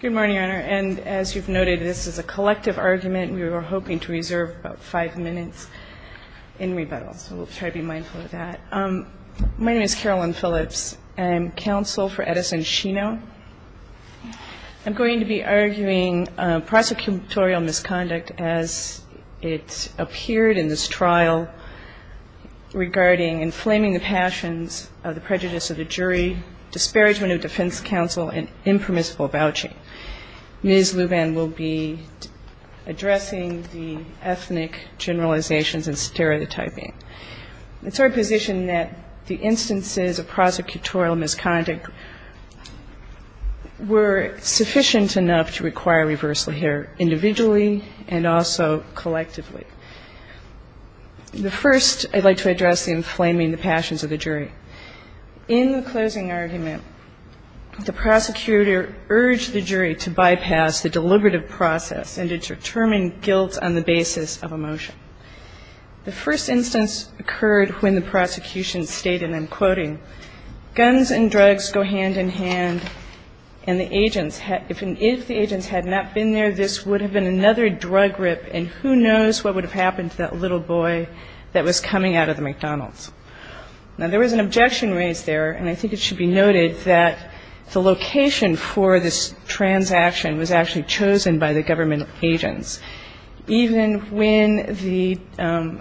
Good morning, Your Honor. And as you've noted, this is a collective argument. We were hoping to reserve about five minutes in rebuttal, so we'll try to be mindful of that. My name is Carolyn Phillips. I'm counsel for Edison Shino. I'm going to be arguing prosecutorial misconduct as it appeared in this trial regarding inflaming the passions of the prejudice of the jury, disparagement of defense counsel, and impermissible vouching. Ms. Luban will be addressing the ethnic generalizations and stereotyping. It's our position that the instances of prosecutorial misconduct were sufficient enough to require the jury to bypass the deliberative process and to determine guilt on the basis of emotion. The first instance occurred when the prosecution stated, and I'm quoting, guns and drugs go hand in hand, and the agents had — if the agents had not been there, this would have been another drug rip, and who knows what would have happened to that little boy that was coming out of the McDonald's. Now, there was an objection raised there, and I think it should be noted that the location for this transaction was actually chosen by the government agents, even when the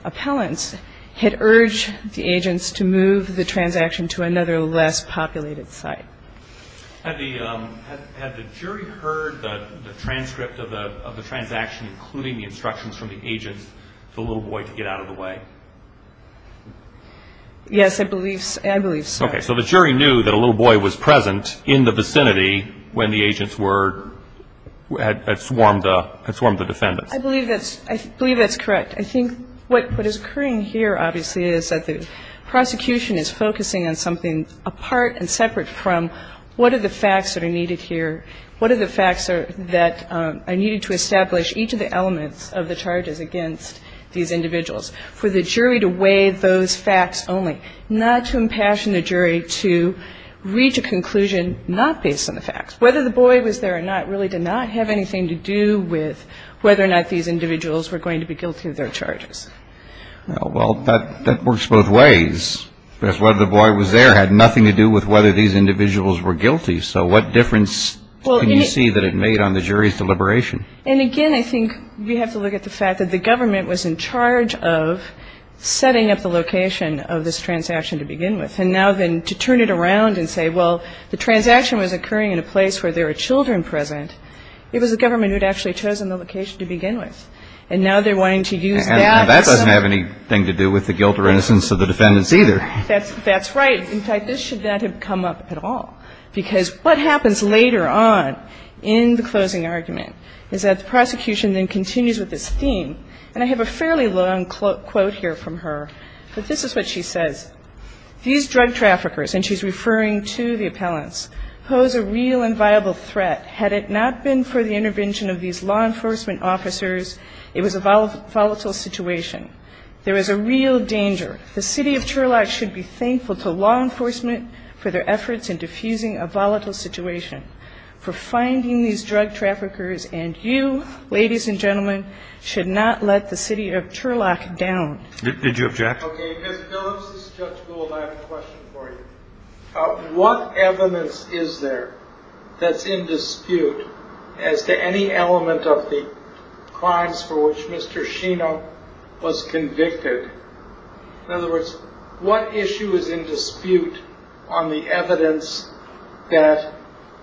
appellants had urged the agents to move the transaction to another less populated site. Had the jury heard the transcript of the transaction, including the instructions from the agents for the little boy to get out of the way? Yes, I believe so. Okay. So the jury knew that a little boy was present in the vicinity when the agents had swarmed the defendants. I believe that's correct. I think what is occurring here, obviously, is that the prosecution is focusing on something apart and separate from what are the facts that are needed here, what are the facts that are needed to establish each of the elements of the charges against these individuals, for the jury to weigh those facts only, not to impassion the jury to reach a conclusion not based on the facts. Whether the boy was there or not really did not have anything to do with whether or not these individuals were going to be guilty of their charges. Well, that works both ways. Whether the boy was there had nothing to do with whether these individuals were guilty. So what difference can you see that it made on the jury's deliberation? And, again, I think we have to look at the fact that the government was in charge of setting up the location of this transaction to begin with. And now then to turn it around and say, well, the transaction was occurring in a place where there were children present, it was the government who had actually chosen the location to begin with. And now they're wanting to use that. And that doesn't have anything to do with the guilt or innocence of the defendants either. That's right. In fact, this should not have come up at all. Because what happens later on in the closing argument is that the prosecution then continues with this theme. And I have a fairly long quote here from her. But this is what she says. These drug traffickers, and she's referring to the appellants, pose a real and viable threat had it not been for the intervention of these law enforcement officers, it was a volatile situation. There is a real danger. The city of Turlock should be thankful to law enforcement for their efforts in defusing a volatile situation, for finding these drug traffickers, and you, ladies and gentlemen, should not let the city of Turlock down. Did you object? Okay. Ms. Phillips, this is Judge Gould. I have a question for you. What evidence is there that's in dispute as to any element of the crimes for which Mr. Sheno was convicted? In other words, what issue is in dispute on the evidence that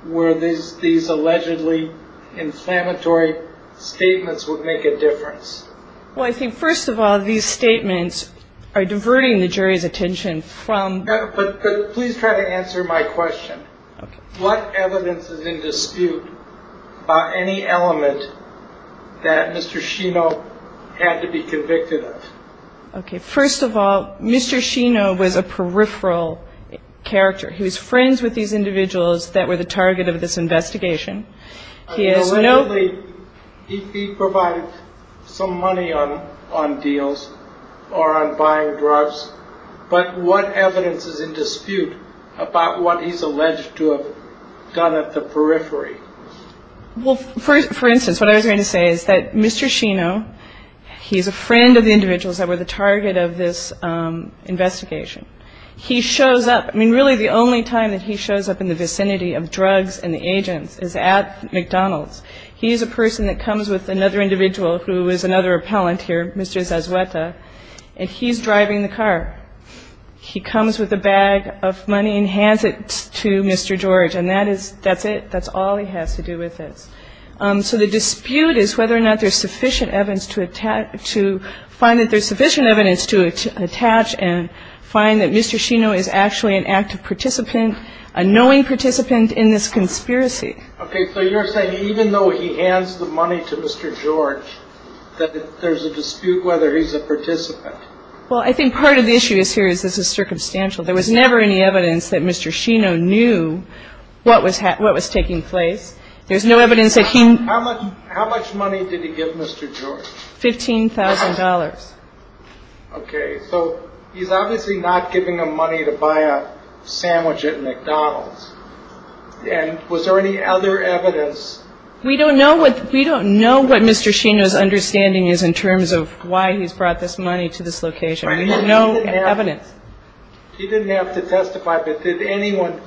where these allegedly inflammatory statements would make a difference? Well, I think, first of all, these statements are diverting the jury's attention from the evidence. But please try to answer my question. Okay. What evidence is in dispute by any element that Mr. Sheno had to be convicted of? Okay. First of all, Mr. Sheno was a peripheral character. He was friends with these individuals that were the target of this investigation. He provided some money on deals or on buying drugs, but what evidence is in dispute about what he's alleged to have done at the periphery? Well, for instance, what I was going to say is that Mr. Sheno, he's a friend of the individuals that were the target of this investigation. He shows up – I mean, really the only time that he shows up in the vicinity of drugs and the agents is at McDonald's. He is a person that comes with another individual who is another appellant here, Mr. Zazueta, and he's driving the car. He comes with a bag of money and hands it to Mr. George, and that is – that's it. That's all he has to do with this. So the dispute is whether or not there's sufficient evidence to find that there's sufficient evidence to attach and find that Mr. Sheno is actually an active participant, a knowing participant in this conspiracy. Okay. So you're saying even though he hands the money to Mr. George, that there's a dispute whether he's a participant? Well, I think part of the issue here is this is circumstantial. There was never any evidence that Mr. Sheno knew what was taking place. There's no evidence that he – How much money did he give Mr. George? $15,000. Okay. So he's obviously not giving him money to buy a sandwich at McDonald's. And was there any other evidence? We don't know what Mr. Sheno's understanding is in terms of why he's brought this money to this location. There's no evidence. You didn't have to testify, but did anyone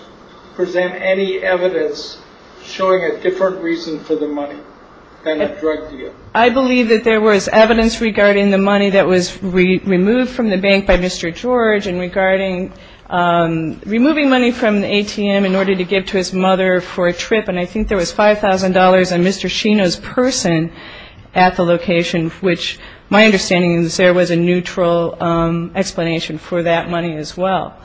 present any evidence showing a different reason for the money than a drug deal? I believe that there was evidence regarding the money that was removed from the bank by Mr. George and regarding removing money from the ATM in order to give to his mother for a trip. And I think there was $5,000 on Mr. Sheno's person at the location, which my understanding is there was a neutral explanation for that money as well.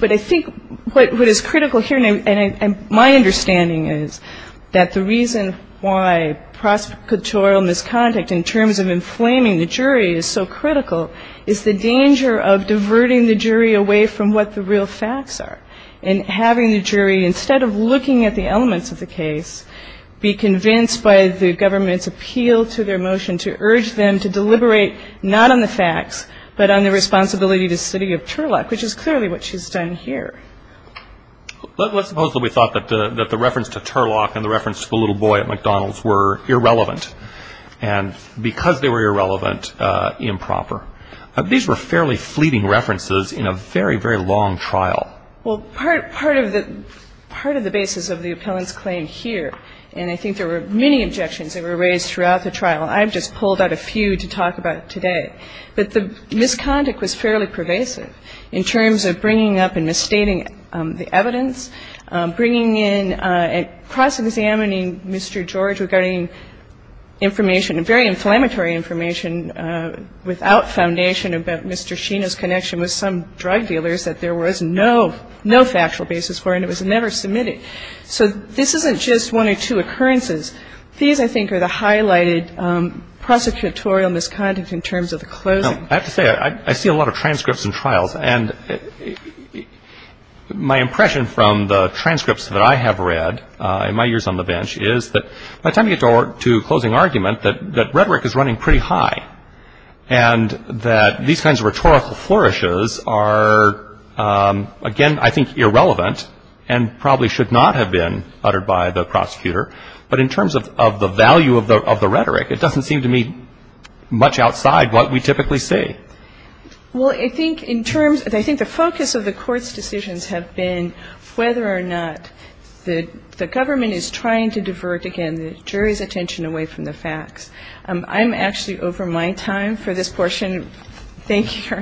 But I think what is critical here, and my understanding is that the reason why prosecutorial misconduct in terms of inflaming the jury is so critical is the danger of diverting the jury away from what the real facts are and having the jury, instead of looking at the elements of the case, be convinced by the government's appeal to their motion to urge them to deliberate not on the facts, but on the responsibility to the city of Turlock, which is clearly what she's done here. Let's suppose that we thought that the reference to Turlock and the reference to the little boy at McDonald's were irrelevant. And because they were irrelevant, improper. These were fairly fleeting references in a very, very long trial. Well, part of the basis of the appellant's claim here, and I think there were many objections that were raised throughout the trial, I've just pulled out a few to talk about today, but the misconduct was fairly pervasive in terms of bringing up and misstating the evidence, bringing in and cross-examining Mr. George regarding information, very inflammatory information, without foundation about Mr. Sheena's connection with some drug dealers that there was no factual basis for and it was never submitted. So this isn't just one or two occurrences. These, I think, are the highlighted prosecutorial misconduct in terms of the closing. I have to say, I see a lot of transcripts and trials, and my impression from the transcripts that I have read in my years on the bench is that by the time you get to closing argument that rhetoric is running pretty high and that these kinds of rhetorical flourishes are, again, I think irrelevant and probably should not have been uttered by the prosecutor, but in terms of the value of the rhetoric, it doesn't seem to me much outside what we typically see. Well, I think in terms of the focus of the Court's decisions have been whether or not the government is trying to divert, again, the jury's attention away from the facts. I'm actually over my time for this portion. Thank you.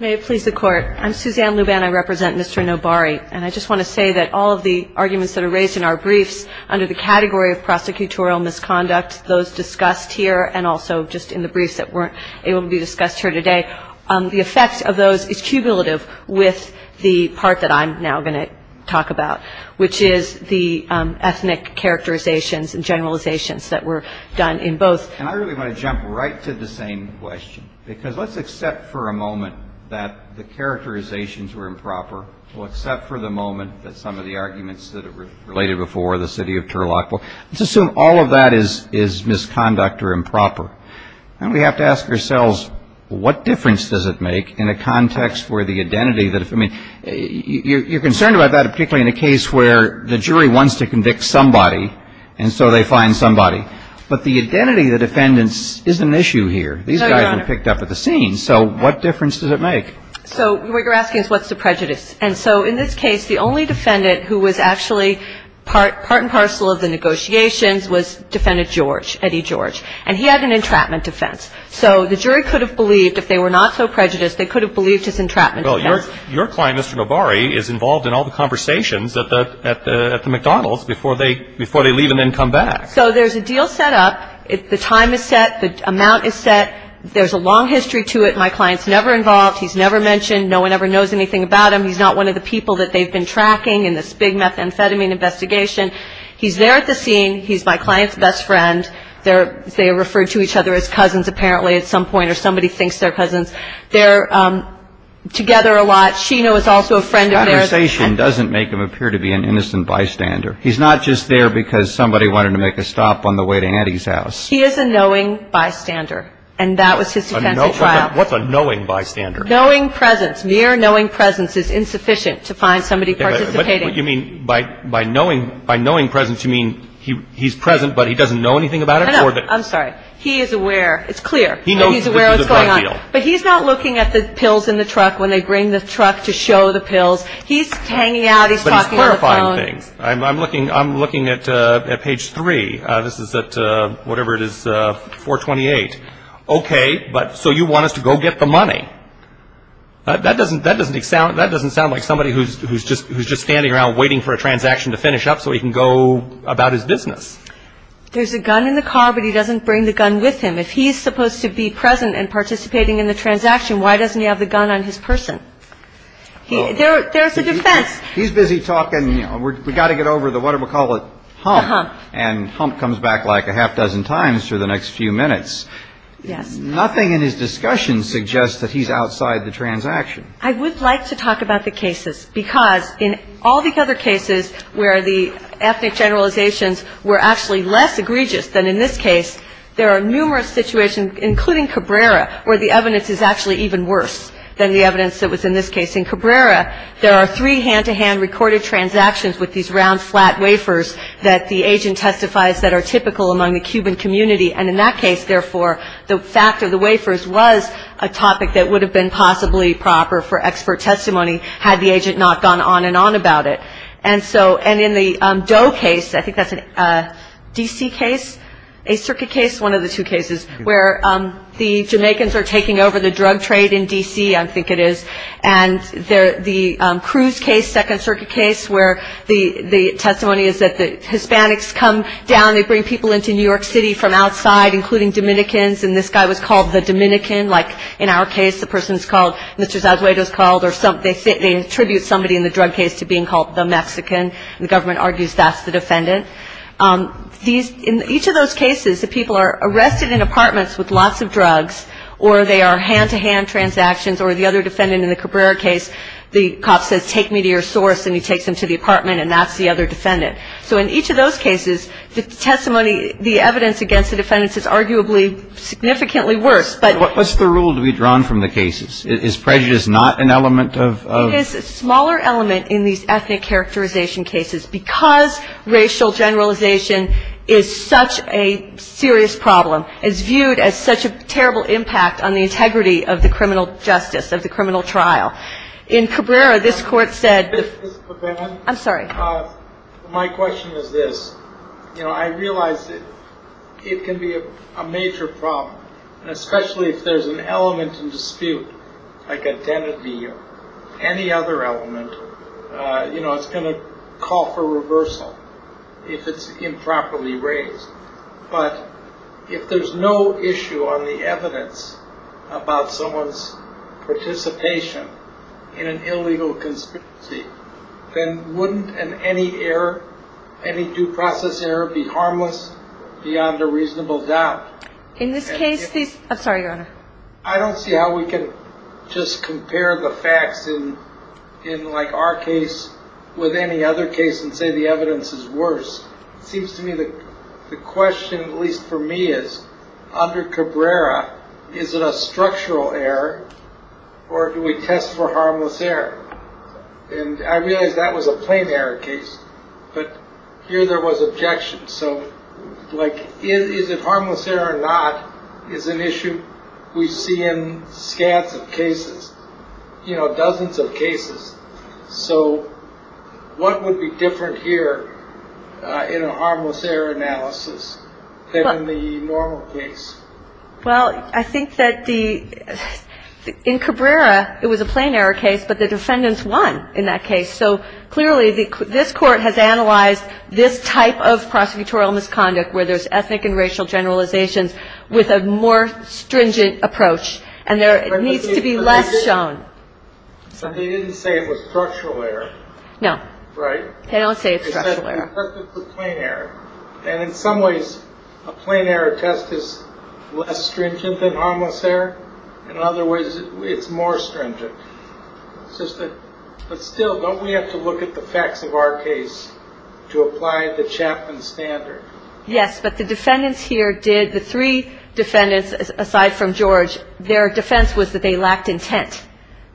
May it please the Court. I'm Suzanne Luban. I represent Mr. Nobari. And I just want to say that all of the arguments that are raised in our briefs under the category of prosecutorial misconduct, those discussed here and also just in the briefs that weren't able to be discussed here today, the effect of those is cumulative with the part that I'm now going to talk about, which is the ethnic characterizations and generalizations that were done in both. And I really want to jump right to the same question, because let's accept for a moment that the characterizations were improper. We'll accept for the moment that some of the arguments that were related before, the city of Turlock, let's assume all of that is misconduct or improper. And we have to ask ourselves, what difference does it make in a context where the identity that, I mean, you're concerned about that particularly in a case where the jury wants to convict somebody, and so they find somebody. But the identity of the defendants isn't an issue here. These guys have been picked up at the scene. So what difference does it make? So what you're asking is, what's the prejudice? And so in this case, the only defendant who was actually part and parcel of the negotiations was Defendant George, Eddie George, and he had an entrapment defense. So the jury could have believed, if they were not so prejudiced, they could have believed his entrapment defense. Well, your client, Mr. Nobari, is involved in all the conversations at the McDonald's before they leave and then come back. So there's a deal set up. The time is set. The amount is set. There's a long history to it. My client's never involved. He's never mentioned. No one ever knows anything about him. He's not one of the people that they've been tracking in this big methamphetamine investigation. He's there at the scene. He's my client's best friend. They are referred to each other as cousins, apparently, at some point, or somebody thinks they're cousins. They're together a lot. Sheena was also a friend of theirs. The conversation doesn't make him appear to be an innocent bystander. He's not just there because somebody wanted to make a stop on the way to Eddie's house. He is a knowing bystander, and that was his defense at trial. What's a knowing bystander? Knowing presence. Mere knowing presence is insufficient to find somebody participating. But you mean by knowing presence you mean he's present but he doesn't know anything about it? No, no. I'm sorry. He is aware. It's clear that he's aware of what's going on. But he's not looking at the pills in the truck when they bring the truck to show the pills. He's hanging out. He's talking on the phone. I'm looking at page 3. This is at whatever it is, 428. Okay, but so you want us to go get the money. That doesn't sound like somebody who's just standing around waiting for a transaction to finish up so he can go about his business. There's a gun in the car, but he doesn't bring the gun with him. If he's supposed to be present and participating in the transaction, why doesn't he have the gun on his person? There's a defense. He's busy talking. We've got to get over the what do we call it, hump, and hump comes back like a half dozen times for the next few minutes. Nothing in his discussion suggests that he's outside the transaction. I would like to talk about the cases because in all the other cases where the ethnic generalizations were actually less egregious than in this case, there are numerous situations, including Cabrera, where the evidence is actually even worse than the evidence that was in this case. In Cabrera, there are three hand-to-hand recorded transactions with these round, flat wafers that the agent testifies that are typical among the Cuban community. And in that case, therefore, the fact of the wafers was a topic that would have been possibly proper for expert testimony had the agent not gone on and on about it. And so in the Doe case, I think that's a D.C. case, a circuit case, one of the two cases, where the Jamaicans are taking over the drug trade in D.C., I think it is. And the Cruz case, second circuit case, where the testimony is that the Hispanics come down. They bring people into New York City from outside, including Dominicans. And this guy was called the Dominican. Like in our case, the person is called Mr. Zazueta is called, or they attribute somebody in the drug case to being called the Mexican. The government argues that's the defendant. In each of those cases, the people are arrested in apartments with lots of drugs, or they are hand-to-hand transactions, or the other defendant in the Cabrera case, the cop says, take me to your source, and he takes them to the apartment, and that's the other defendant. So in each of those cases, the testimony, the evidence against the defendants is arguably significantly worse. But ‑‑ But what's the rule to be drawn from the cases? Is prejudice not an element of ‑‑ It is a smaller element in these ethnic characterization cases, because racial generalization is such a serious problem. It's viewed as such a terrible impact on the integrity of the criminal justice, of the criminal trial. In Cabrera, this court said ‑‑ Ms. Pavan. I'm sorry. My question is this. You know, I realize it can be a major problem, and especially if there's an element in dispute, like identity or any other element, but if there's no issue on the evidence about someone's participation in an illegal conspiracy, then wouldn't any error, any due process error, be harmless beyond a reasonable doubt? In this case, these ‑‑ I'm sorry, Your Honor. I don't see how we can just compare the facts in, like, our case with any other case and say the evidence is worse. It seems to me that the question, at least for me, is, under Cabrera, is it a structural error or do we test for harmless error? And I realize that was a plain error case, but here there was objection. So, like, is it harmless error or not is an issue we see in scats of cases, you know, dozens of cases. So what would be different here in a harmless error analysis than in the normal case? Well, I think that the ‑‑ in Cabrera it was a plain error case, but the defendants won in that case. So clearly this court has analyzed this type of prosecutorial misconduct where there's ethnic and racial generalizations with a more stringent approach, and there needs to be less shown. So they didn't say it was structural error. No. Right? They don't say it's structural error. They said it's a plain error. And in some ways a plain error test is less stringent than harmless error, and in other ways it's more stringent. But still, don't we have to look at the facts of our case to apply the Chapman standard? Yes, but the defendants here did. The three defendants, aside from George, their defense was that they lacked intent.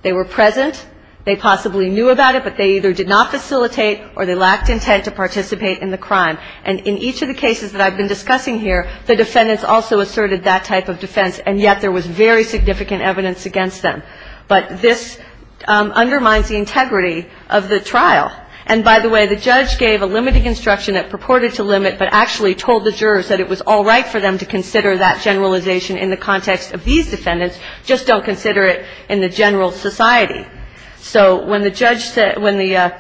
They were present. They possibly knew about it, but they either did not facilitate or they lacked intent to participate in the crime. And in each of the cases that I've been discussing here, the defendants also asserted that type of defense, and yet there was very significant evidence against them. But this undermines the integrity of the trial. And by the way, the judge gave a limiting instruction that purported to limit but actually told the jurors that it was all right for them to consider that generalization in the context of these defendants. Just don't consider it in the general society. So when the judge said – when the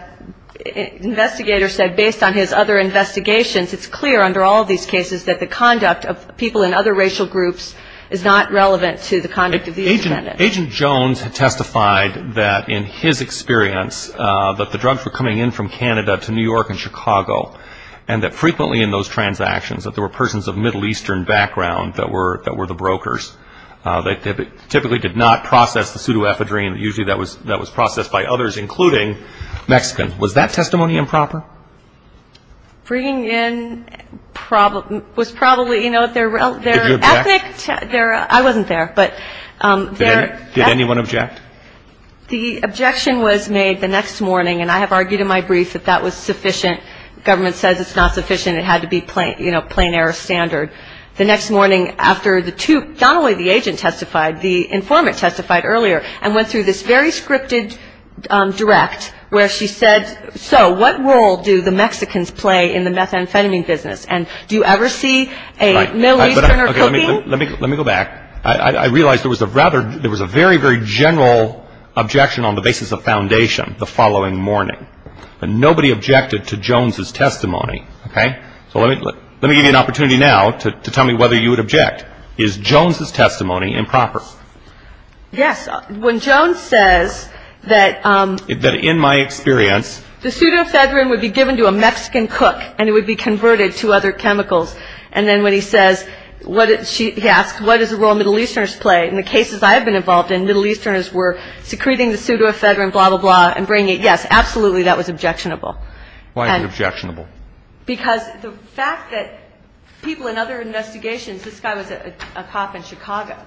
investigator said based on his other investigations, it's clear under all of these cases that the conduct of people in other racial groups is not relevant to the conduct of these defendants. Agent Jones testified that in his experience that the drugs were coming in from Canada to New York and Chicago, and that frequently in those transactions that there were persons of Middle Eastern background that were the brokers. They typically did not process the pseudoephedrine. Usually that was processed by others, including Mexicans. Was that testimony improper? Bringing in was probably – you know, their ethic – Did you object? I wasn't there, but – Did anyone object? The objection was made the next morning, and I have argued in my brief that that was sufficient. Government says it's not sufficient. It had to be, you know, plain air standard. The next morning after the two – not only the agent testified, the informant testified earlier and went through this very scripted direct where she said, so what role do the Mexicans play in the methamphetamine business, and do you ever see a Middle Easterner cooking? Let me go back. I realize there was a very, very general objection on the basis of foundation the following morning, and nobody objected to Jones' testimony, okay? So let me give you an opportunity now to tell me whether you would object. Is Jones' testimony improper? Yes. When Jones says that – That in my experience – The pseudoephedrine would be given to a Mexican cook, and it would be converted to other chemicals, and then when he says – he asks, what does the role of Middle Easterners play? In the cases I have been involved in, Middle Easterners were secreting the pseudoephedrine, blah, blah, blah, and bringing it – yes, absolutely that was objectionable. Why was it objectionable? Because the fact that people in other investigations – this guy was a cop in Chicago.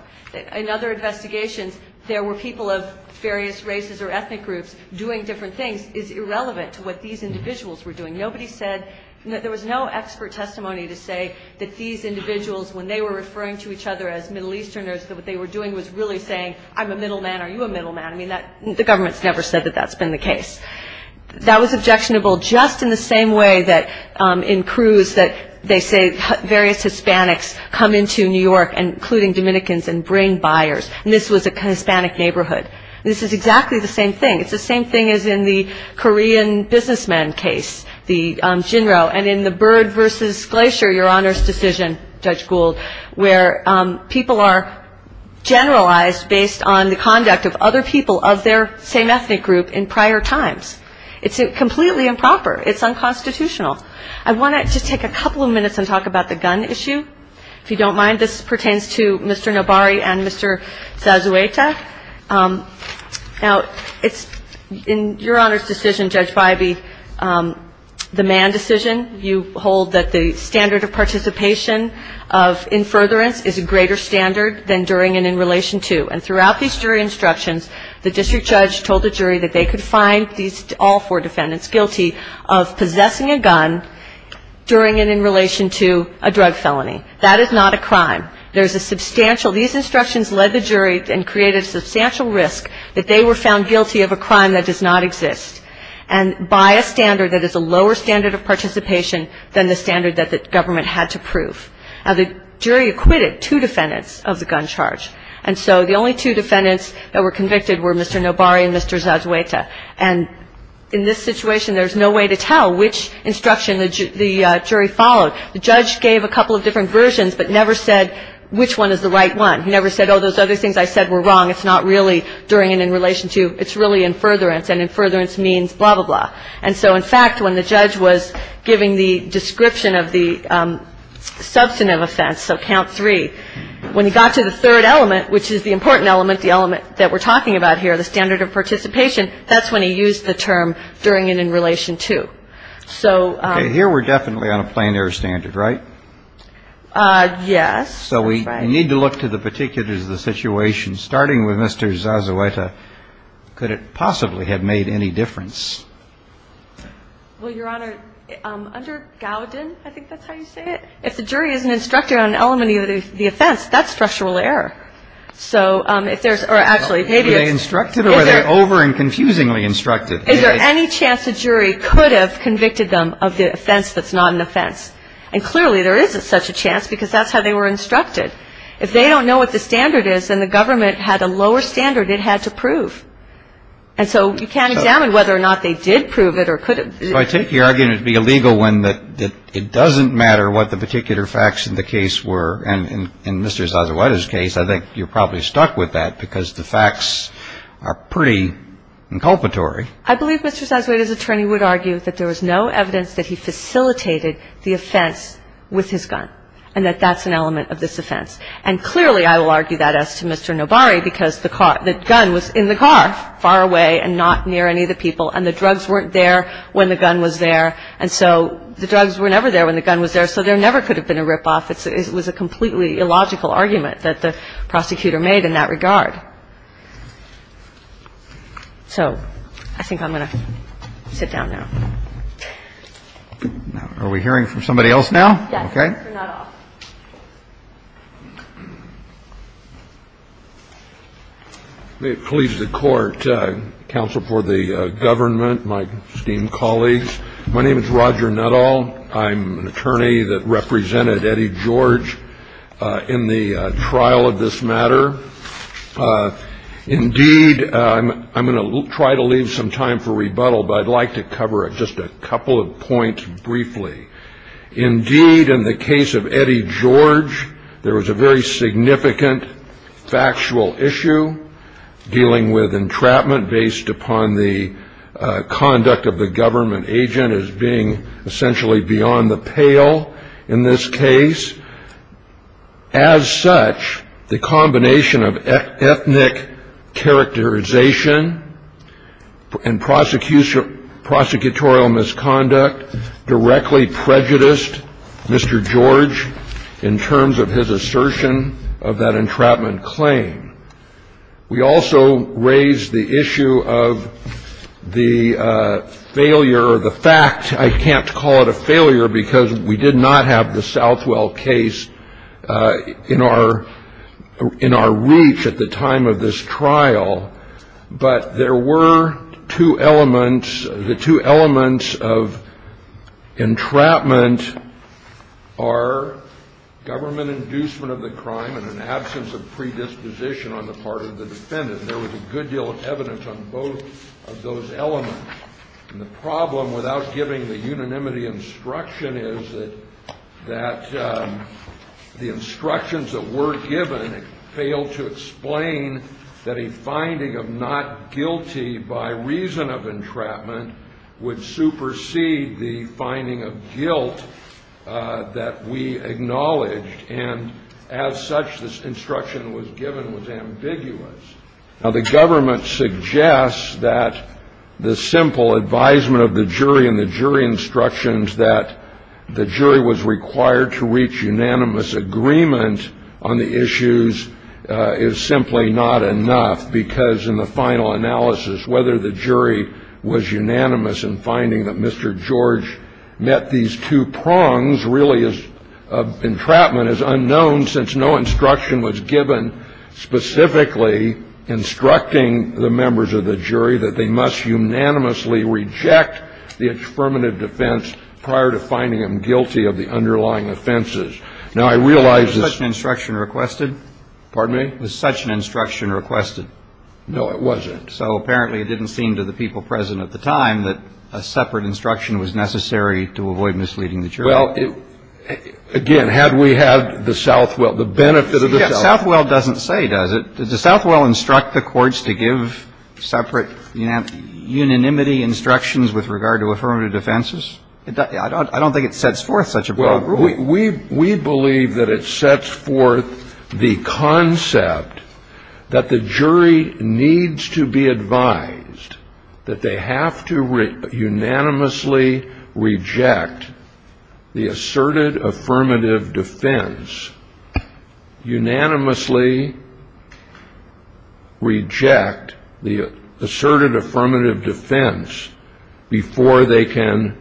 In other investigations, there were people of various races or ethnic groups doing different things is irrelevant to what these individuals were doing. Nobody said – there was no expert testimony to say that these individuals, when they were referring to each other as Middle Easterners, that what they were doing was really saying, I'm a middle man, are you a middle man? I mean, the government's never said that that's been the case. That was objectionable just in the same way that in Cruz, that they say various Hispanics come into New York, including Dominicans, and bring buyers. And this was a Hispanic neighborhood. This is exactly the same thing. It's the same thing as in the Korean businessman case, the Jinro, and in the Byrd versus Glacier, Your Honor's decision, Judge Gould, where people are generalized based on the conduct of other people of their same ethnic group in prior times. It's completely improper. It's unconstitutional. I want to just take a couple of minutes and talk about the gun issue. If you don't mind, this pertains to Mr. Nobari and Mr. Zazueta. Now, it's – in Your Honor's decision, Judge Bybee, the man decision, you hold that the standard of participation of in furtherance is a greater standard than during and in relation to, and throughout these jury instructions, the district judge told the jury that they could find these all four defendants guilty of possessing a gun during and in relation to a drug felony. That is not a crime. There's a substantial – these instructions led the jury and created a substantial risk that they were found guilty of a crime that does not exist. And by a standard that is a lower standard of participation than the standard that the government had to prove. Now, the jury acquitted two defendants of the gun charge. And so the only two defendants that were convicted were Mr. Nobari and Mr. Zazueta. And in this situation, there's no way to tell which instruction the jury followed. The judge gave a couple of different versions but never said which one is the right one. He never said, oh, those other things I said were wrong. It's not really during and in relation to. It's really in furtherance. And in furtherance means blah, blah, blah. And so, in fact, when the judge was giving the description of the substantive offense, so count three, when he got to the third element, which is the important element, the element that we're talking about here, the standard of participation, that's when he used the term during and in relation to. So – Okay. Here we're definitely on a plein air standard, right? Yes. So we need to look to the particulars of the situation. Starting with Mr. Zazueta, could it possibly have made any difference? Well, Your Honor, under Gowden, I think that's how you say it, if the jury is an instructor on an element of the offense, that's structural error. So if there's – or actually, maybe it's – Were they instructed or were they over and confusingly instructed? Is there any chance the jury could have convicted them of the offense that's not an offense? And clearly, there isn't such a chance because that's how they were instructed. If they don't know what the standard is, then the government had a lower standard it had to prove. And so you can't examine whether or not they did prove it or could have. So I take your argument to be a legal one that it doesn't matter what the particular facts in the case were. And in Mr. Zazueta's case, I think you're probably stuck with that because the facts are pretty inculpatory. I believe Mr. Zazueta's attorney would argue that there was no evidence that he facilitated the offense with his gun and that that's an element of this offense. And clearly, I will argue that as to Mr. Nobari because the car – the gun was in the car, far away and not near any of the people, and the drugs weren't there when the gun was there. And so the drugs were never there when the gun was there, so there never could have been a ripoff. It was a completely illogical argument that the prosecutor made in that regard. So I think I'm going to sit down now. Roberts. Now, are we hearing from somebody else now? Okay. For Nuttall. May it please the Court, counsel for the government, my esteemed colleagues. My name is Roger Nuttall. I'm an attorney that represented Eddie George in the trial of this matter. Indeed, I'm going to try to leave some time for rebuttal, but I'd like to cover just a couple of points briefly. Indeed, in the case of Eddie George, there was a very significant factual issue dealing with entrapment based upon the conduct of the government agent as being essentially beyond the pale in this case. As such, the combination of ethnic characterization and prosecutorial misconduct directly prejudiced Mr. George in terms of his assertion of that entrapment claim. We also raised the issue of the failure or the fact, I can't call it a failure because we did not have the Southwell case in our reach at the time of this trial. But there were two elements. The two elements of entrapment are government inducement of the crime and an absence of predisposition on the part of the defendant. There was a good deal of evidence on both of those elements. And the problem without giving the unanimity instruction is that the instructions that were given failed to explain that a finding of not guilty by reason of entrapment would supersede the finding of guilt that we acknowledged. And as such, this instruction that was given was ambiguous. Now, the government suggests that the simple advisement of the jury and the jury instructions that the jury was required to reach unanimous agreement on the issues is simply not enough because in the final analysis, whether the jury was unanimous in finding that Mr. George met these two prongs really is entrapment is unknown since no instruction was given specifically instructing the members of the jury that they must unanimously reject the affirmative defense prior to finding them guilty of the underlying offenses. Now, I realize this. Was such an instruction requested? Pardon me? Was such an instruction requested? No, it wasn't. So apparently it didn't seem to the people present at the time that a separate instruction was necessary to avoid misleading the jury. Well, again, had we had the Southwell, the benefit of the Southwell. The Southwell doesn't say, does it? Does the Southwell instruct the courts to give separate unanimity instructions with regard to affirmative defenses? I don't think it sets forth such a program. Well, we believe that it sets forth the concept that the jury needs to be advised that they have to unanimously reject the asserted affirmative defense, unanimously reject the asserted affirmative defense before they can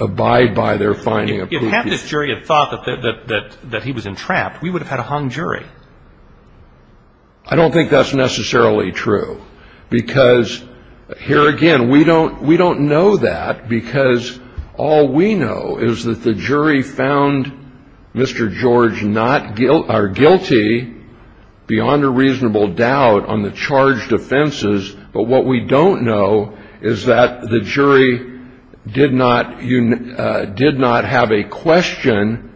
abide by their finding of guilty. If half this jury had thought that he was entrapped, we would have had a hung jury. I don't think that's necessarily true, because, here again, we don't know that, because all we know is that the jury found Mr. George guilty beyond a reasonable doubt on the charged offenses. But what we don't know is that the jury did not have a question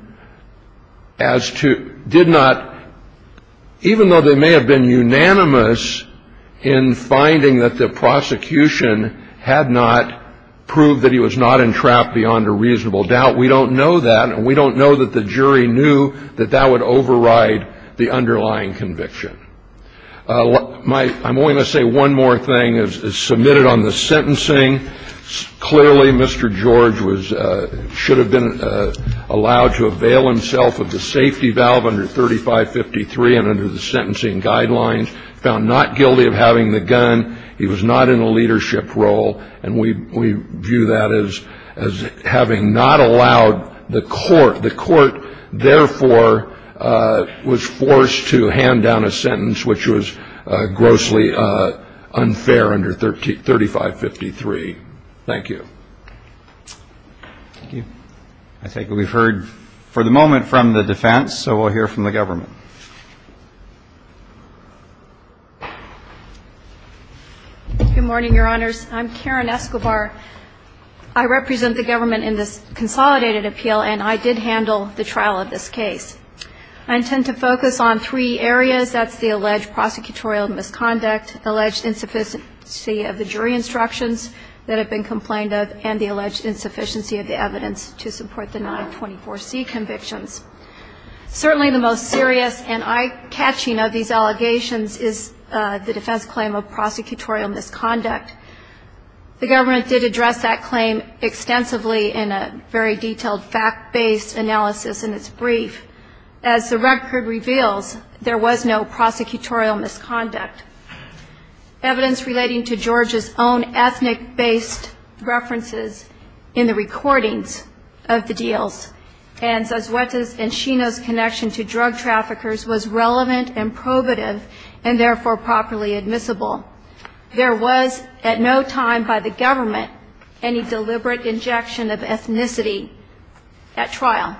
as to, did not, even though they may have been unanimous in finding that the prosecution had not proved that he was not entrapped beyond a reasonable doubt, we don't know that, and we don't know that the jury knew that that would override the underlying conviction. I'm only going to say one more thing, as submitted on the sentencing, clearly Mr. George should have been allowed to avail himself of the safety valve under 3553 and under the sentencing guidelines, found not guilty of having the gun, he was not in a leadership role, and we view that as having not allowed the court. The court, therefore, was forced to hand down a sentence which was grossly unfair under 3553. Thank you. Thank you. I think we've heard for the moment from the defense, so we'll hear from the government. Good morning, Your Honors. I'm Karen Escobar. I represent the government in this consolidated appeal, and I did handle the trial of this case. I intend to focus on three areas. That's the alleged prosecutorial misconduct, alleged insufficiency of the jury instructions that have been complained of, and the alleged insufficiency of the evidence to support the 924C convictions. Certainly the most serious and eye-catching of these allegations is the defense claim of prosecutorial misconduct. The government did address that claim extensively in a very detailed fact-based analysis in its brief. As the record reveals, there was no prosecutorial misconduct. Evidence relating to George's own ethnic-based references in the recordings of the deals, and Zazueta's and Shino's connection to drug traffickers was relevant and probative, and therefore properly admissible. There was at no time by the government any deliberate injection of ethnicity at trial.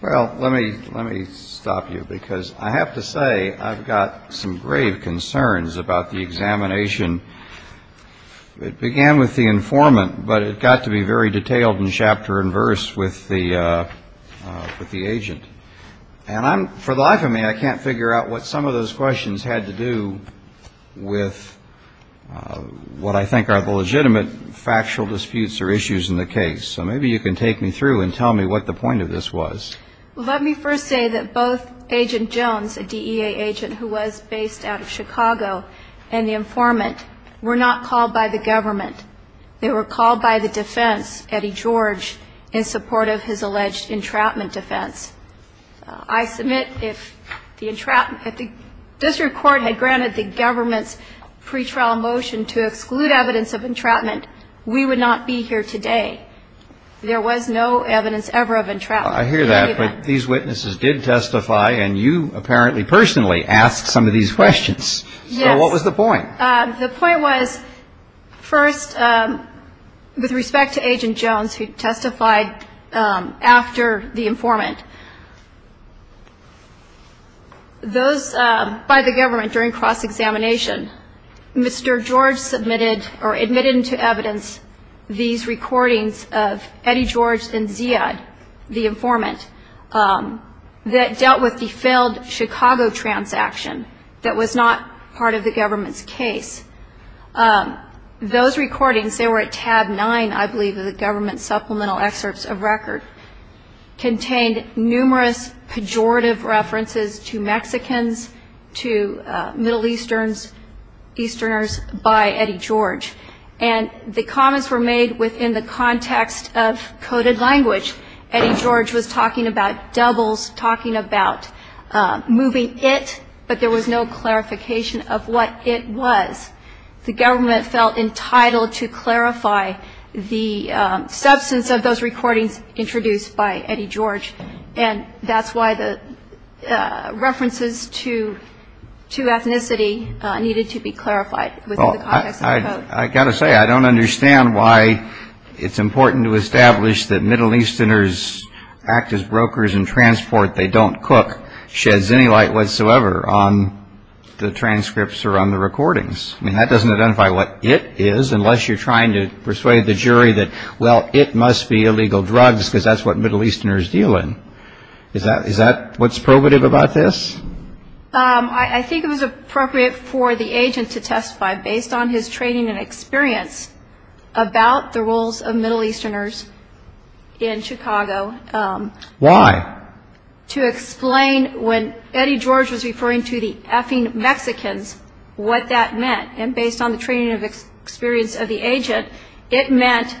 Well, let me stop you, because I have to say I've got some grave concerns about the examination. It began with the informant, but it got to be very detailed in chapter and verse with the agent. And for the life of me, I can't figure out what some of those questions had to do with what I think are the legitimate factual disputes or issues in the case, so maybe you can take me through and tell me what the point of this was. Well, let me first say that both Agent Jones, a DEA agent who was based out of Chicago, and the informant were not called by the government. They were called by the defense, Eddie George, in support of his alleged entrapment defense. I submit if the district court had granted the government's pretrial motion to exclude evidence of entrapment, we would not be here today. There was no evidence ever of entrapment. I hear that, but these witnesses did testify, and you apparently personally asked some of these questions. Yes. So what was the point? The point was, first, with respect to Agent Jones, who testified after the informant, those by the government during cross-examination, Mr. George submitted or admitted into evidence these recordings of Eddie George and Zia, the informant, that dealt with the failed Chicago transaction that was not part of the government's case. Those recordings, they were at tab nine, I believe, of the government supplemental excerpts of record, contained numerous pejorative references to Mexicans, to Middle Easterners by Eddie George, and the comments were made within the context of coded language. Eddie George was talking about doubles, talking about moving it, but there was no clarification of what it was. The government felt entitled to clarify the substance of those recordings introduced by Eddie George, and that's why the references to ethnicity needed to be clarified within the context of the code. I've got to say, I don't understand why it's important to establish that Middle Easterners act as brokers in transport. They don't cook sheds any light whatsoever on the transcripts or on the recordings. I mean, that doesn't identify what it is, unless you're trying to persuade the jury that, well, it must be illegal drugs because that's what Middle Easterners deal in. Is that what's probative about this? I think it was appropriate for the agent to testify, based on his training and experience, about the roles of Middle Easterners in Chicago. Why? To explain when Eddie George was referring to the effing Mexicans, what that meant, and based on the training and experience of the agent, it meant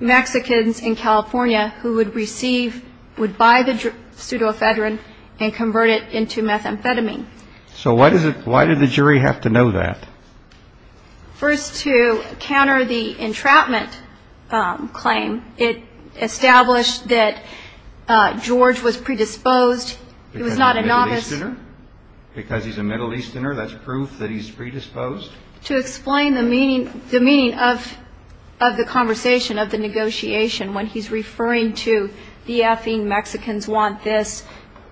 Mexicans in California who would receive, would buy the pseudoephedrine and convert it into methamphetamine. So why did the jury have to know that? First, to counter the entrapment claim. It established that George was predisposed. He was not a novice. Because he's a Middle Easterner? That's proof that he's predisposed? To explain the meaning of the conversation, of the negotiation, when he's referring to the effing Mexicans want this.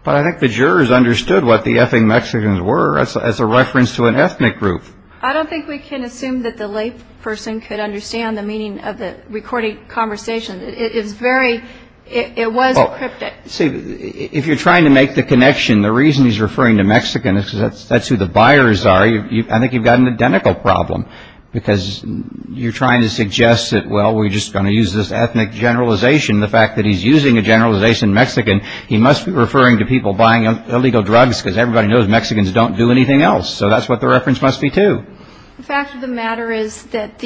But I think the jurors understood what the effing Mexicans were as a reference to an ethnic group. I don't think we can assume that the layperson could understand the meaning of the recording conversation. It is very, it was cryptic. See, if you're trying to make the connection, the reason he's referring to Mexicans is because that's who the buyers are. I think you've got an identical problem, because you're trying to suggest that, well, we're just going to use this ethnic generalization. And the fact that he's using a generalization Mexican, he must be referring to people buying illegal drugs, because everybody knows Mexicans don't do anything else. So that's what the reference must be to. The fact of the matter is that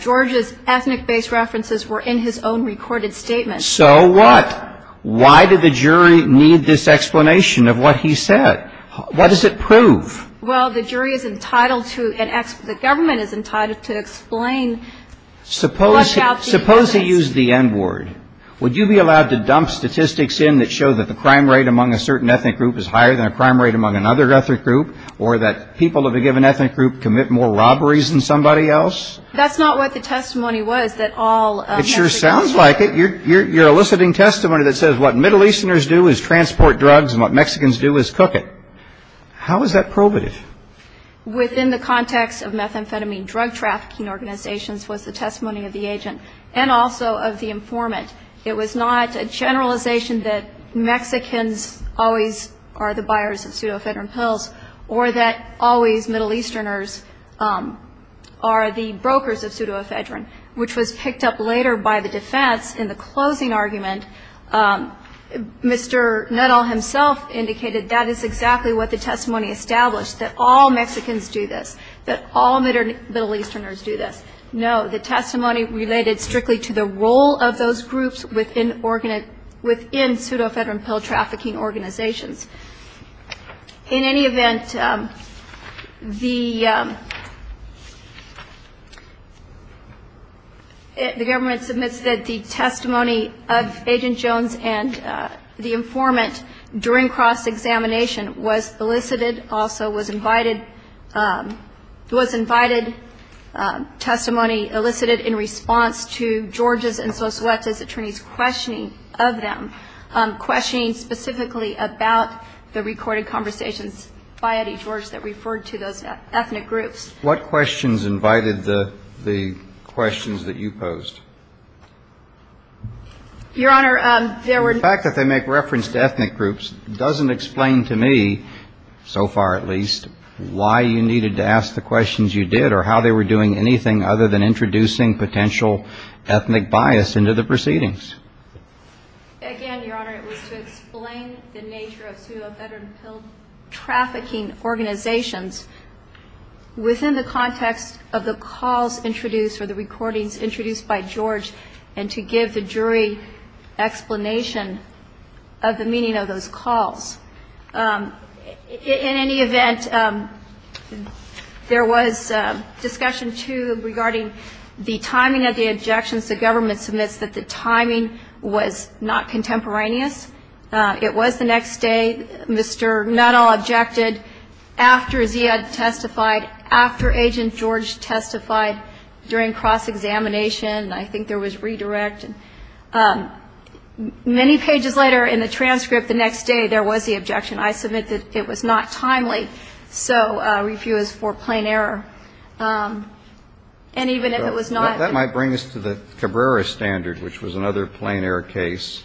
George's ethnic-based references were in his own recorded statement. So what? Why did the jury need this explanation of what he said? What does it prove? Well, the jury is entitled to, and the government is entitled to explain. Suppose he used the N-word. Would you be allowed to dump statistics in that show that the crime rate among a certain ethnic group is higher than a crime rate among another ethnic group, or that people of a given ethnic group commit more robberies than somebody else? That's not what the testimony was, that all Mexicans do. It sure sounds like it. You're eliciting testimony that says what Middle Easterners do is transport drugs and what Mexicans do is cook it. How is that probative? Within the context of methamphetamine drug trafficking organizations was the testimony of the agent and also of the informant. It was not a generalization that Mexicans always are the buyers of pseudoephedrine pills or that always Middle Easterners are the brokers of pseudoephedrine, which was picked up later by the defense in the closing argument. Mr. Nuttall himself indicated that is exactly what the testimony established, that all Mexicans do this, that all Middle Easterners do this. No, the testimony related strictly to the role of those groups within pseudoephedrine pill trafficking organizations. In any event, the government submits that the testimony of agent and informant, agent Jones and the informant during cross-examination was elicited, also was invited, was invited testimony elicited in response to George's and Sosuete's attorneys' questioning of them, questioning specifically about the recorded conversations by Eddie George that referred to those ethnic groups. What questions invited the questions that you posed? Your Honor, there were no questions. The fact that they make reference to ethnic groups doesn't explain to me, so far at least, why you needed to ask the questions you did or how they were doing anything other than introducing potential ethnic bias into the proceedings. Again, Your Honor, it was to explain the nature of pseudoephedrine pill trafficking organizations within the context of the calls introduced or the recordings introduced by George and to give the jury explanation of the meaning of those calls. In any event, there was discussion, too, regarding the timing of the objections the government submits that the timing was not contemporaneous. It was the next day. Mr. Nuttall objected. After Zia testified, after Agent George testified during cross-examination, I think there was redirect. Many pages later in the transcript the next day, there was the objection. I submit that it was not timely. So review is for plain error. And even if it was not. That might bring us to the Cabrera standard, which was another plain error case.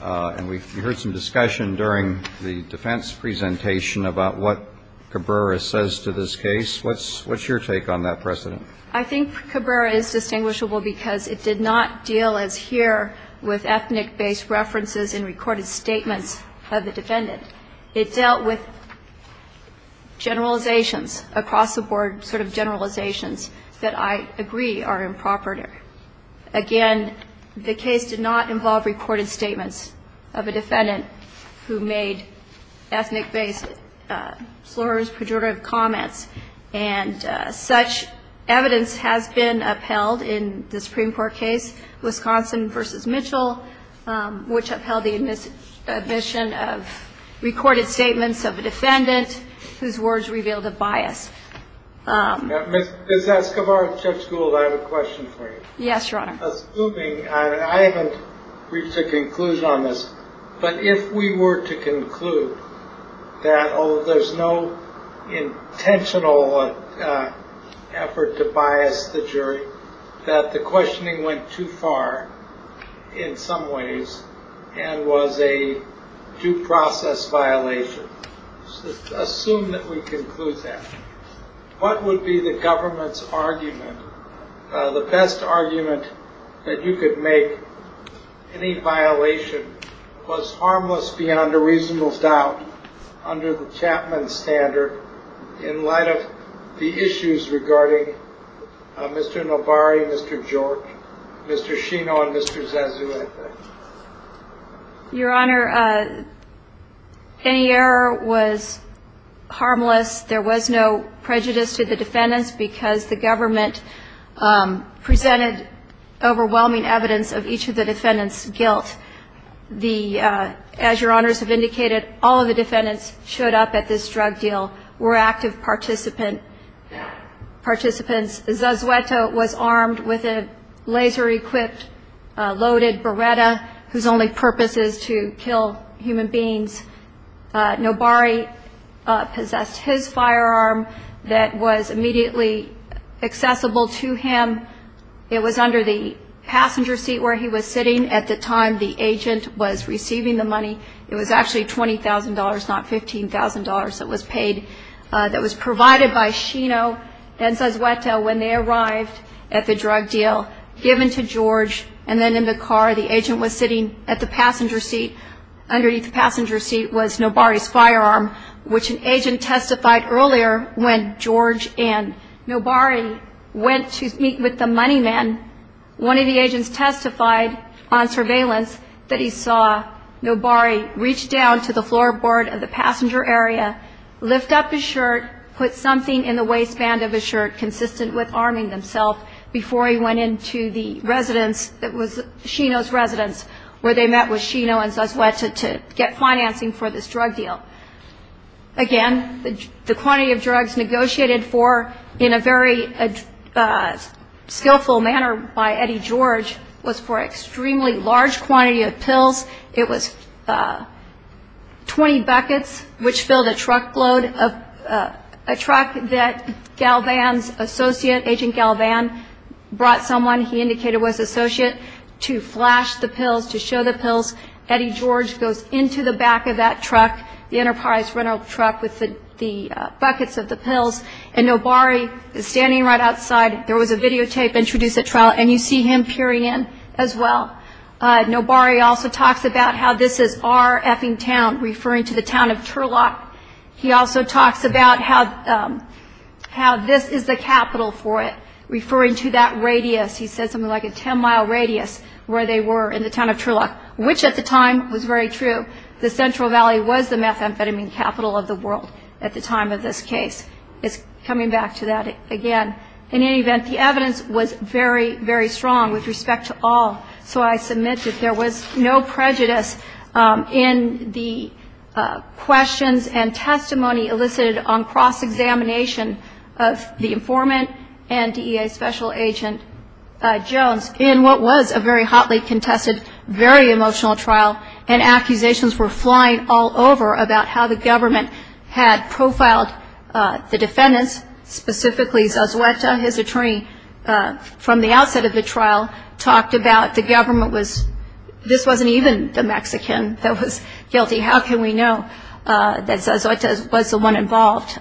And we heard some discussion during the defense presentation about what Cabrera says to this case. What's your take on that precedent? I think Cabrera is distinguishable because it did not deal, as here, with ethnic-based references in recorded statements of the defendant. It dealt with generalizations across the board, sort of generalizations that I agree are improper. Again, the case did not involve recorded statements of a defendant who made ethnic-based slurs, pejorative comments. And such evidence has been upheld in the Supreme Court case, Wisconsin v. Mitchell, which upheld the admission of recorded statements of a defendant whose words revealed a bias. Ms. Escobar, Judge Gould, I have a question for you. Yes, Your Honor. Assuming, and I haven't reached a conclusion on this, but if we were to conclude that, oh, there's no intentional effort to bias the jury, that the questioning went too far in some ways and was a due process violation. Assume that we conclude that. What would be the government's argument, the best argument that you could make, any violation was harmless beyond a reasonable doubt under the Chapman standard in light of the issues regarding Mr. Novari, Mr. George, Mr. Shino, and Mr. Zazu, I think? Your Honor, any error was harmless. There was no prejudice to the defendants because the government presented overwhelming evidence of each of the defendants' guilt. The, as Your Honors have indicated, all of the defendants showed up at this drug deal were active participants. Zazueta was armed with a laser-equipped loaded Beretta whose only purpose is to kill human beings. Novari possessed his firearm that was immediately accessible to him. It was under the passenger seat where he was sitting at the time the agent was receiving the money. It was actually $20,000, not $15,000 that was paid, that was provided by Shino and Zazueta when they arrived at the drug deal, given to George, and then in the car the agent was sitting at the passenger seat. Underneath the passenger seat was Novari's firearm, which an agent testified earlier when George and Novari went to meet with the money man. One of the agents testified on surveillance that he saw Novari reach down to the floorboard of the passenger area, lift up his shirt, put something in the waistband of his shirt, consistent with arming himself before he went into the residence that was Shino's residence where they met with Shino and Zazueta to get financing for this drug deal. Again, the quantity of drugs negotiated for in a very skillful manner by Eddie George was for an extremely large quantity of pills. It was 20 buckets, which filled a truckload, a truck that Galvan's associate, Agent Galvan, brought someone, he indicated was an associate, to flash the pills, to show the pills. Eddie George goes into the back of that truck, the Enterprise rental truck with the buckets of the pills, and Novari is standing right outside. There was a videotape introduced at trial, and you see him peering in as well. Novari also talks about how this is our effing town, referring to the town of Turlock. He also talks about how this is the capital for it, referring to that radius. He said something like a 10-mile radius where they were in the town of Turlock, which at the time was very true. The Central Valley was the methamphetamine capital of the world at the time of this case. It's coming back to that again. In any event, the evidence was very, very strong with respect to all, so I submit that there was no prejudice in the questions and testimony elicited on cross-examination of the informant and DEA special agent. In what was a very hotly contested, very emotional trial, and accusations were flying all over about how the government had profiled the defendants, specifically Zazueta. His attorney, from the outset of the trial, talked about the government was, this wasn't even the Mexican that was guilty. How can we know that Zazueta was the one involved?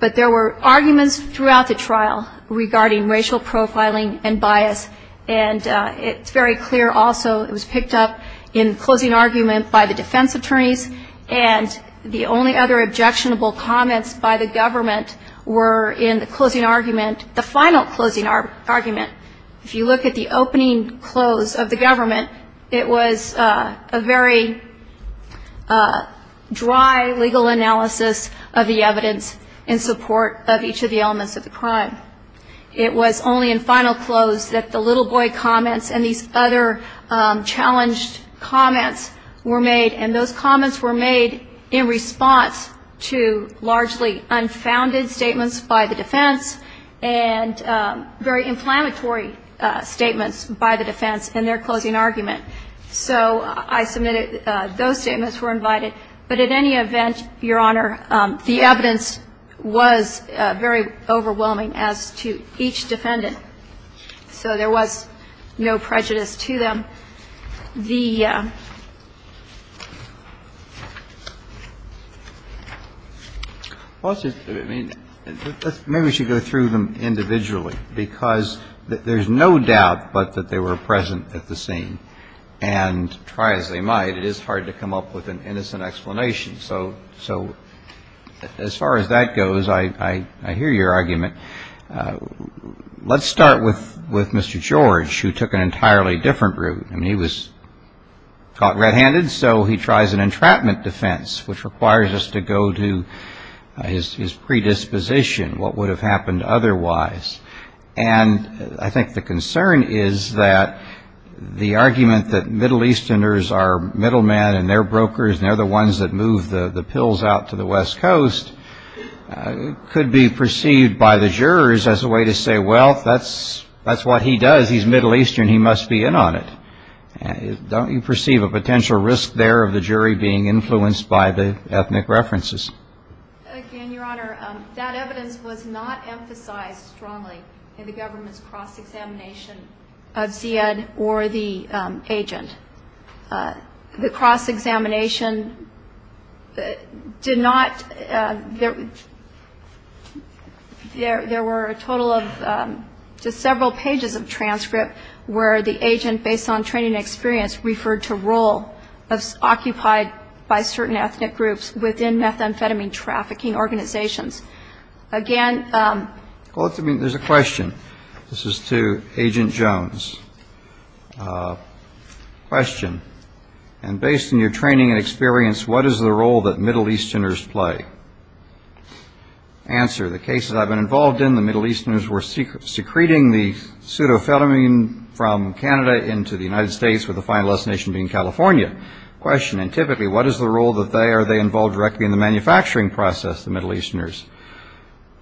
But there were arguments throughout the trial regarding racial profiling and bias. And it's very clear also, it was picked up in closing argument by the defense attorneys, and the only other objectionable comments by the government were in the closing argument, the final closing argument. If you look at the opening close of the government, it was a very dry legal analysis of the evidence. There was no evidence in support of each of the elements of the crime. It was only in final close that the little boy comments and these other challenged comments were made, and those comments were made in response to largely unfounded statements by the defense, and very inflammatory statements by the defense in their closing argument. So I submitted, those statements were invited. But at any event, Your Honor, the evidence was very overwhelming as to each defendant. So there was no prejudice to them. The ---- Well, it's just, I mean, maybe we should go through them individually, because there's no doubt but that they were present at the scene and try as they might. It is hard to come up with an innocent explanation. So as far as that goes, I hear your argument. Let's start with Mr. George, who took an entirely different route. I mean, he was caught red-handed, so he tries an entrapment defense, which requires us to go to his predisposition, what would have happened otherwise. And I think the concern is that the argument that Middle Easterners are middlemen and they're brokers and they're the ones that move the pills out to the West Coast could be perceived by the defense as a threat. And the jurors, as a way to say, well, that's what he does, he's Middle Eastern, he must be in on it. Don't you perceive a potential risk there of the jury being influenced by the ethnic references? Again, Your Honor, that evidence was not emphasized strongly in the government's cross-examination of Ziad or the agent. The cross-examination did not ---- There were a total of just several pages of transcript where the agent, based on training and experience, referred to role occupied by certain ethnic groups within methamphetamine trafficking organizations. Again ---- Well, there's a question. This is to Agent Jones. Question. And based on your training and experience, what is the role that Middle Easterners play? Answer. The cases I've been involved in, the Middle Easterners were secreting the pseudo-phetamine from Canada into the United States, with the final destination being California. Question. And typically, what is the role that they are involved directly in the manufacturing process, the Middle Easterners?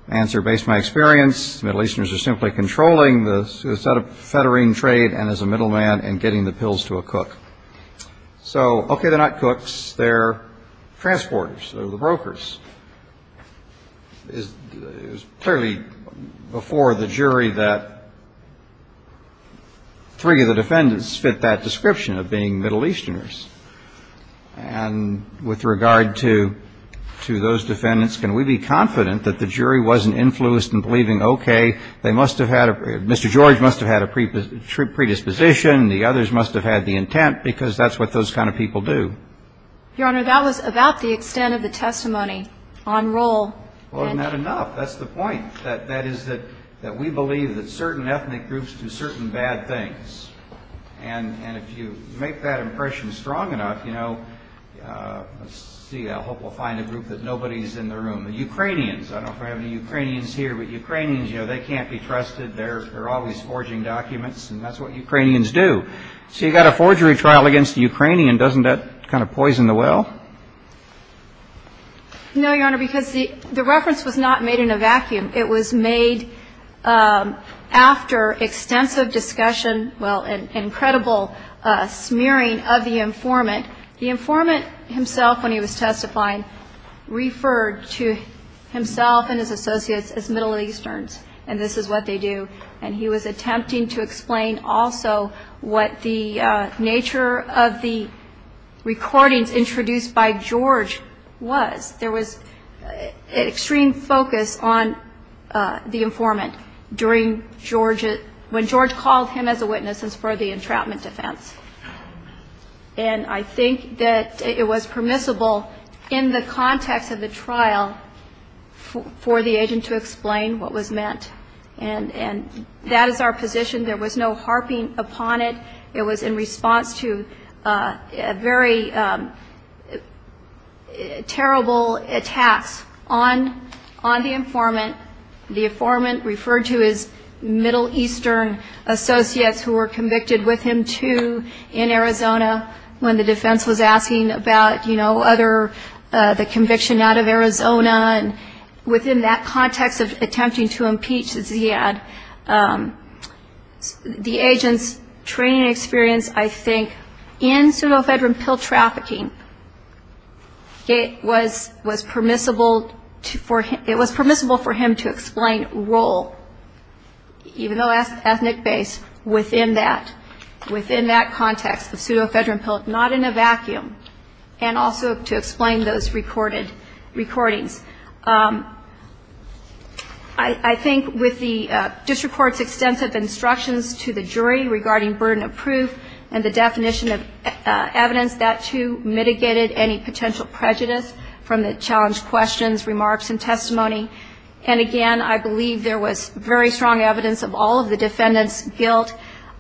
Answer. Based on my experience, the Middle Easterners are simply controlling the set of federine trade and as a middleman and getting the pills to a cook. So, okay, they're not cooks. They're transporters. They're the brokers. It was clearly before the jury that three of the defendants fit that description of being Middle Easterners. And with regard to those defendants, can we be confident that the jury wasn't influenced in believing, okay, they must have had a ---- Mr. George must have had a predisposition. The others must have had the intent, because that's what those kind of people do. Well, isn't that enough? That's the point. That is that we believe that certain ethnic groups do certain bad things. And if you make that impression strong enough, you know, let's see, I hope we'll find a group that nobody's in the room. The Ukrainians, I don't know if we have any Ukrainians here, but Ukrainians, you know, they can't be trusted. They're always forging documents, and that's what Ukrainians do. So you've got a forgery trial against a Ukrainian. Doesn't that kind of poison the well? No, Your Honor, because the reference was not made in a vacuum. It was made after extensive discussion, well, incredible smearing of the informant. The informant himself, when he was testifying, referred to himself and his associates as Middle Easterners, and this is what they do. And he was attempting to explain also what the nature of the recordings introduced by George was. There was extreme focus on the informant during George's ---- when George called him as a witness for the entrapment defense. And I think that it was permissible in the context of the trial for the agent to explain what was meant. And that is our position. There was no harping upon it. It was in response to very terrible attacks on the informant. The informant referred to his Middle Eastern associates who were convicted with him, too, in Arizona when the defense was asking about, you know, other ---- the conviction out of Arizona. And within that context of attempting to impeach the Ziad, the agent's training experience, I think, in pseudo-federal pill trafficking, it was permissible for him to explain role, even though ethnic-based, within that context of pseudo-federal pill, not in a vacuum, and also to explain those recorded recordings. I think with the district court's extensive instructions to the jury regarding burden of proof and the definition of evidence, that, too, was a very strong evidence of the defendant's guilt,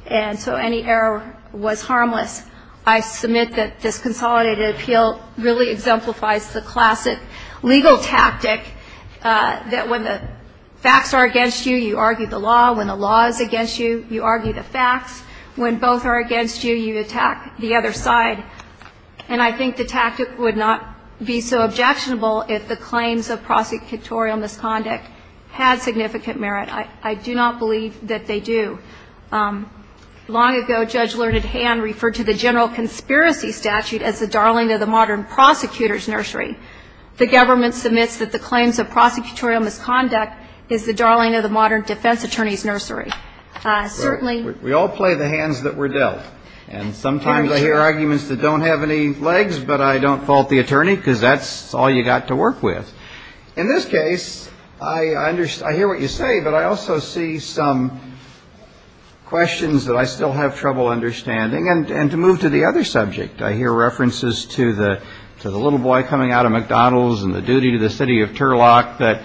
and so any error was harmless. I submit that this consolidated appeal really exemplifies the classic legal tactic that when the facts are against you, you argue the law. When the law is against you, you argue the facts. When both are against you, you attack the other side. And so I think that the claims of prosecutorial misconduct had significant merit. I do not believe that they do. Long ago, Judge Learned Hand referred to the general conspiracy statute as the darling of the modern prosecutor's nursery. The government submits that the claims of prosecutorial misconduct is the darling of the modern defense attorney's nursery. Certainly ---- We all play the hands that were dealt. And sometimes I hear arguments that don't have any legs, but I don't fault the attorney, because that's all you got to work with. In this case, I hear what you say, but I also see some questions that I still have trouble understanding. And to move to the other subject, I hear references to the little boy coming out of McDonald's and the duty to the city of Turlock that, in my opinion, is a little over the top. I mean, it's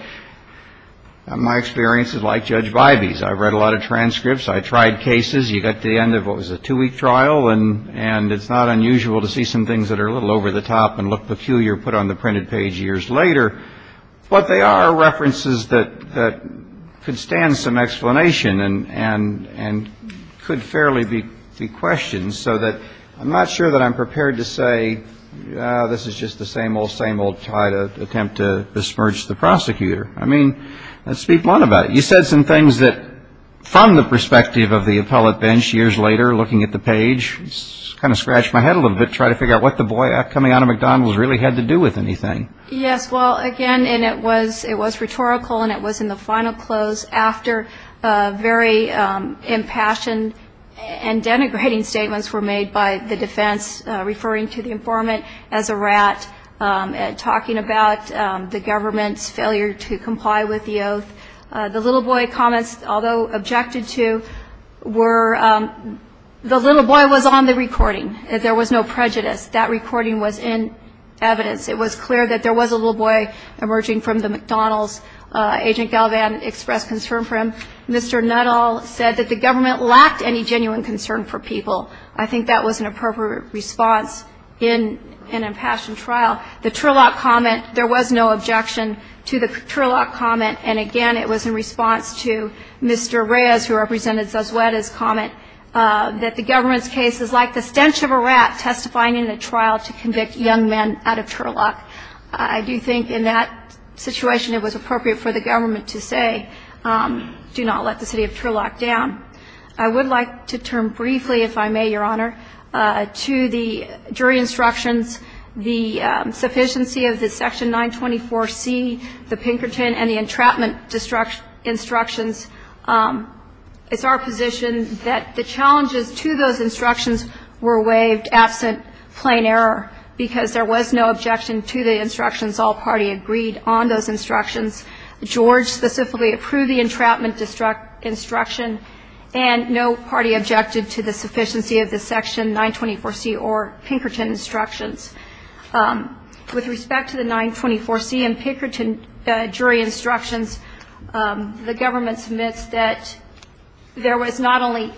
not unusual to see some things that are a little over the top and look peculiar, put on the printed page years later. But they are references that could stand some explanation and could fairly be questioned, so that I'm not sure that I'm prepared to say, this is just the same old, same old try to attempt to disperse the prosecutor. I mean, let's speak blunt about it. You said some things that, from the perspective of the appellate bench years later looking at the page, kind of scratched my head a little bit trying to figure out what the boy coming out of McDonald's really had to do with anything. Yes, well, again, and it was rhetorical, and it was in the final close after very impassioned and denigrating statements were made by the defense referring to the informant as a rat, talking about the government's failure to comply with the oath. The little boy comments, although objected to, were the little boy was on the recording. There was no prejudice. That recording was in evidence. It was clear that there was a little boy emerging from the McDonald's. Agent Galvan expressed concern for him. Mr. Nuttall said that the government lacked any genuine concern for people. I think that was an appropriate response in an impassioned trial. The Turlock comment, there was no objection to the Turlock comment, and again, it was in response to Mr. Reyes, who represented the city of Turlock. I do think in that situation it was appropriate for the government to say, do not let the city of Turlock down. I would like to turn briefly, if I may, Your Honor, to the jury instructions, the sufficiency of the Section 924C, the Pinkerton, and the entrapment instructions. It's our position that the challenges to those instructions were waived absent plain error, because there was no objection to the instructions. All party agreed on those instructions. George specifically approved the entrapment instruction, and no party objected to the sufficiency of the Section 924C or Pinkerton instructions. The government submits that there was not only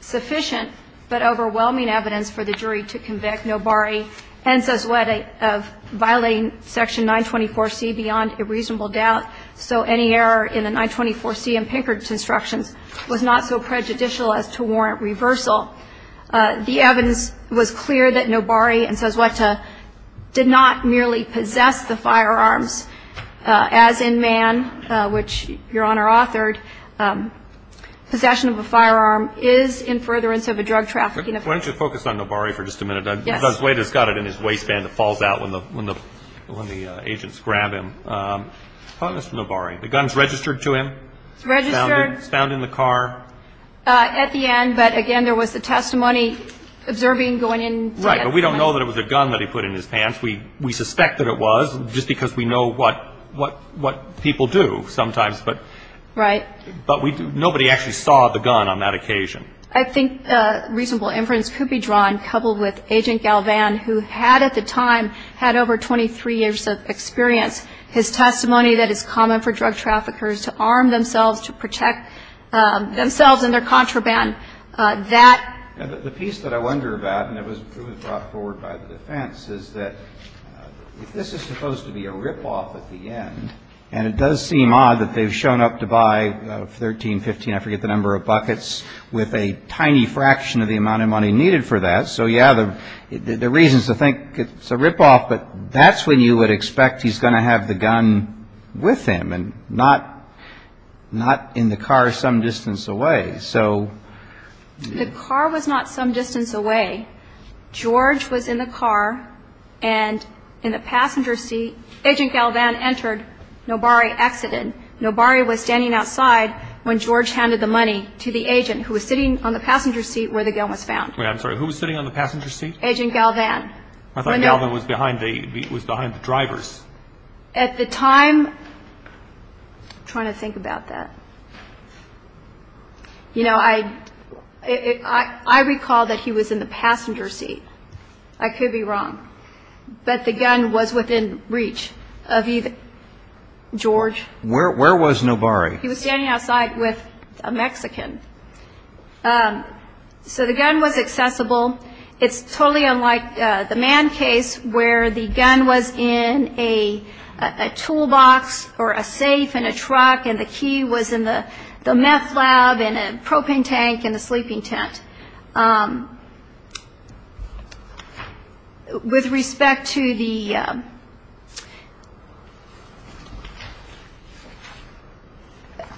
sufficient, but overwhelming evidence for the jury to convict Nobari and Sesweta of violating Section 924C beyond a reasonable doubt, so any error in the 924C and Pinkerton instructions was not so prejudicial as to warrant reversal. The evidence was clear that Nobari and Sesweta did not merely possess the firearms, as in Mann, which Your Honor authored, possession of a firearm is in furtherance of a drug trafficking offense. Why don't you focus on Nobari for just a minute? Yes. Because Sesweta's got it in his waistband, it falls out when the agents grab him. Mr. Nobari, the gun's registered to him? It's registered. It's found in the car? At the end, but again, there was the testimony observing going in. Right, but we don't know that it was a gun that he put in his pants. We suspect that it was, just because we know what people do sometimes. Right. But nobody actually saw the gun on that occasion. I think reasonable inference could be drawn, coupled with Agent Galvan, who had at the time had over 23 years of experience, his defense is that this is supposed to be a ripoff at the end, and it does seem odd that they've shown up to buy 13, 15, I forget the number of buckets, with a tiny fraction of the amount of money needed for that. So, yeah, there are reasons to think it's a ripoff, but that's when you would expect he's going to have the gun with him, and not in the car some distance away. The car was not some distance away. George was in the car, and in the passenger seat, Agent Galvan entered, Nobari exited. Nobari was standing outside when George handed the money to the agent who was sitting on the passenger seat where the gun was found. Wait, I'm sorry, who was sitting on the passenger seat? Agent Galvan. I thought Galvan was behind the drivers. At the time, I'm trying to think about that. You know, I recall that he was in the passenger seat. I could be wrong, but the gun was within reach of George. Where was Nobari? He was standing outside with a Mexican. So the gun was accessible. It's totally unlike the Mann case, where the gun was in a toolbox or a safe in a truck, and the key was in the meth lab in a propane tank in a sleeping tent. With respect to the...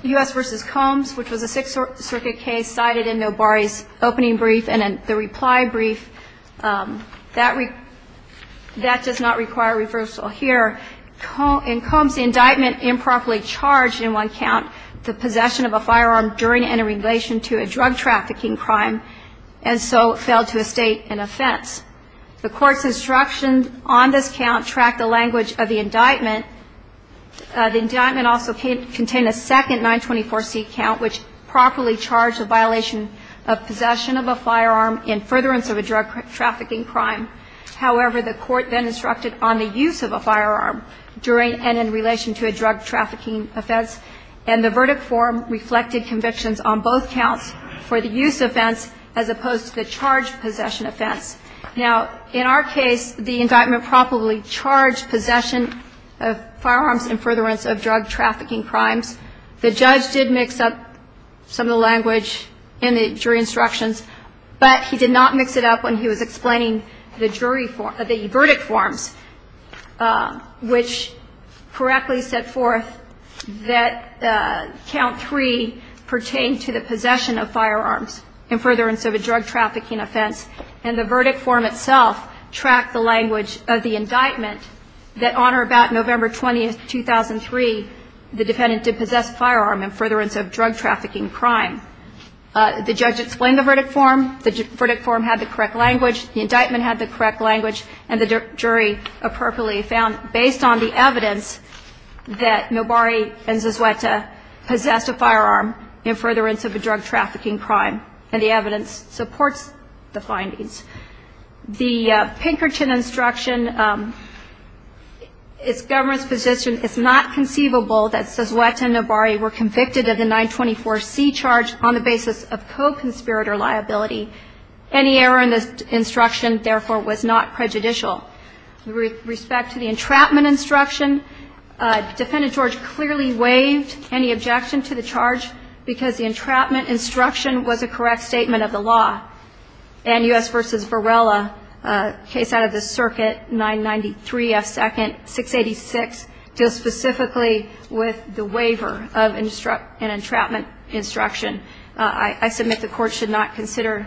U.S. v. Combs, which was a Sixth Circuit case cited in Nobari's opening brief and in the reply brief, that does not require reversal here. In Combs, the indictment improperly charged in one count the possession of a firearm during and in relation to a drug trafficking crime, and so fell to a state in offense. The court's instructions on this count track the language of the indictment. The indictment also contained a second 924C count, which properly charged a violation of possession of a firearm in furtherance of a drug trafficking crime. However, the court then instructed on the use of a firearm during and in relation to a drug trafficking offense, and the verdict form reflected convictions on both counts for the use offense as opposed to the charge possession offense. Now, in our case, the indictment properly charged possession of firearms in furtherance of drug trafficking crimes. The judge did mix up some of the language in the jury instructions, but he did not mix it up when he was explaining the verdict forms, which correctly set forth that Count 3 pertained to the possession of firearms in furtherance of a drug trafficking offense, and the verdict form itself tracked the language of the indictment that on or about November 20, 2003, the defendant did possess a firearm in furtherance of drug trafficking crime. The judge explained the verdict form. The verdict form had the correct language. The indictment had the correct language, and the jury appropriately found, based on the evidence, that Nobari and Zazueta possessed a firearm in furtherance of a drug trafficking crime, and the evidence supports the findings. The Pinkerton instruction, its government's position, it's not conceivable that Zazueta and Nobari were convicted of the 924C charge on the basis of co-conspirator liability. Any error in the instruction, therefore, was not prejudicial. With respect to the entrapment instruction, Defendant George clearly waived any objection to the charge because the entrapment instruction was a correct statement of the law, and U.S. v. Varela, case out of the circuit, 993F2nd, 686, deals specifically with the waiver of an entrapment instruction. I submit the Court should not consider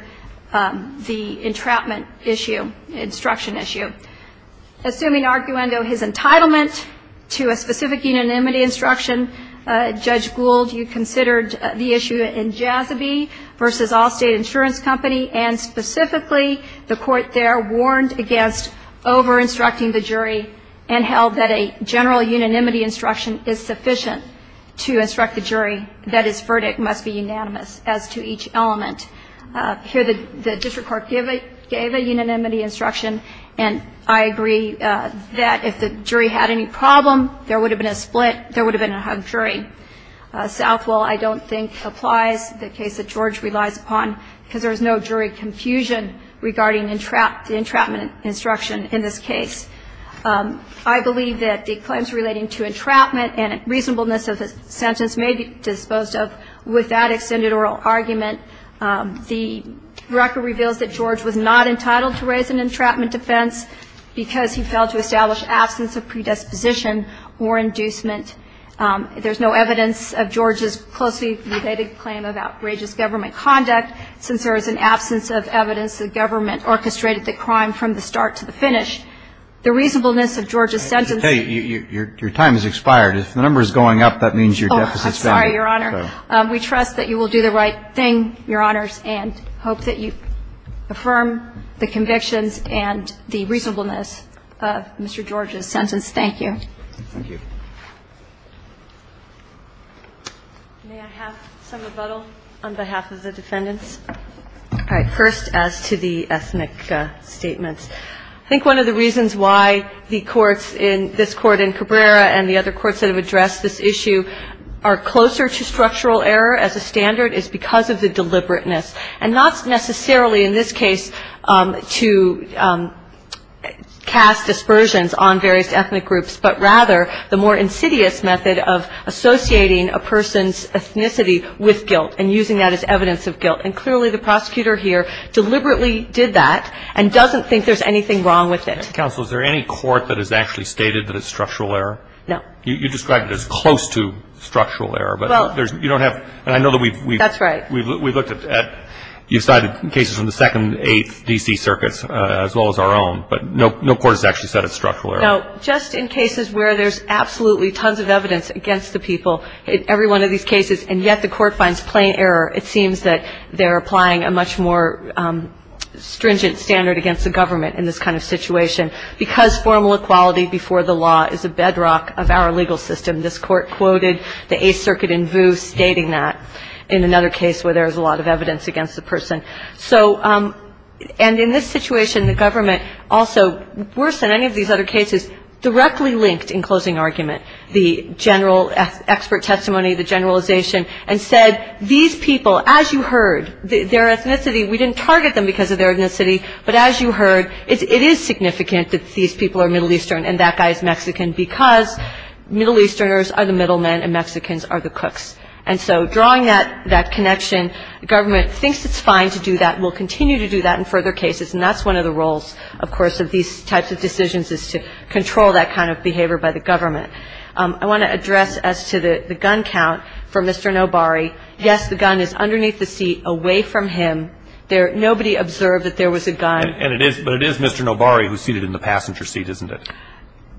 the entrapment instruction issue. Assuming, arguendo, his entitlement to a specific unanimity instruction, Judge Gould, you considered the issue in Jazoby v. Allstate Insurance Company and specifically the Court there warned against over-instructing the jury and held that a general unanimity instruction is sufficient to instruct the jury that its verdict must be unanimous as to each element. Here the district court gave a unanimity instruction, and I agree that if the jury had any problem, there would have been a split, there would have been a hugged jury. Southwell, I don't think, applies the case that George relies upon because there is no jury confusion regarding the entrapment instruction in this case. I believe that the claims relating to entrapment and reasonableness of the sentence may be disposed of without extended oral argument. The record reveals that George was not entitled to raise an entrapment defense because he failed to establish absence of predisposition or inducement. There's no evidence of George's closely related claim of outrageous government conduct since there is an absence of evidence that government orchestrated the crime from the start to the finish. The reasonableness of George's sentence. Hey, your time has expired. If the number is going up, that means your deficit is down. Oh, I'm sorry, Your Honor. We trust that you will do the right thing, Your Honors, and hope that you affirm the convictions and the reasonableness of Mr. George's sentence. Thank you. Thank you. May I have some rebuttal on behalf of the defendants? All right. First, as to the ethnic statements. I think one of the reasons why the courts in this Court in Cabrera and the other courts that have addressed this issue are closer to structural error as a standard is because of the deliberateness. And not necessarily in this case to cast dispersions on various ethnic groups, but rather the more insidious method of associating a person's ethnicity with guilt and using that as evidence of guilt. And clearly the prosecutor here deliberately did that and doesn't think there's anything wrong with it. Counsel, is there any court that has actually stated that it's structural error? No. You described it as close to structural error, but you don't have to. That's right. We looked at you cited cases from the 2nd, 8th, D.C. circuits as well as our own. But no court has actually said it's structural error. No. Just in cases where there's absolutely tons of evidence against the people in every one of these cases, and yet the court finds plain error, it seems that they're applying a much more stringent standard against the government in this kind of situation. Because formal equality before the law is a bedrock of our legal system, and this court quoted the 8th circuit in VU stating that in another case where there's a lot of evidence against the person. And in this situation, the government also, worse than any of these other cases, directly linked in closing argument, the general expert testimony, the generalization, and said, these people, as you heard, their ethnicity, we didn't target them because of their ethnicity, but as you heard, it is significant that these people are Middle Eastern and that guy is Mexican because Middle Easterners are the middle men and Mexicans are the cooks. And so drawing that connection, the government thinks it's fine to do that, will continue to do that in further cases. And that's one of the roles, of course, of these types of decisions is to control that kind of behavior by the government. I want to address as to the gun count for Mr. Nobari. Yes, the gun is underneath the seat away from him. Nobody observed that there was a gun. But it is Mr. Nobari who's seated in the passenger seat, isn't it?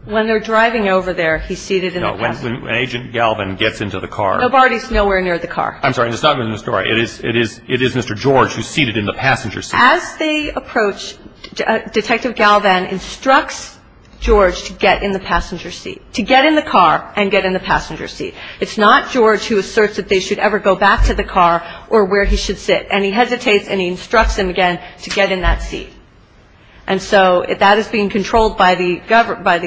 When they're driving over there, he's seated in the passenger seat. No, when Agent Galvan gets into the car. Nobari's nowhere near the car. I'm sorry, it's not Mr. Nobari. It is Mr. George who's seated in the passenger seat. As they approach, Detective Galvan instructs George to get in the passenger seat, to get in the car and get in the passenger seat. It's not George who asserts that they should ever go back to the car or where he should sit. And he hesitates and he instructs him again to get in that seat. And so that is being controlled by the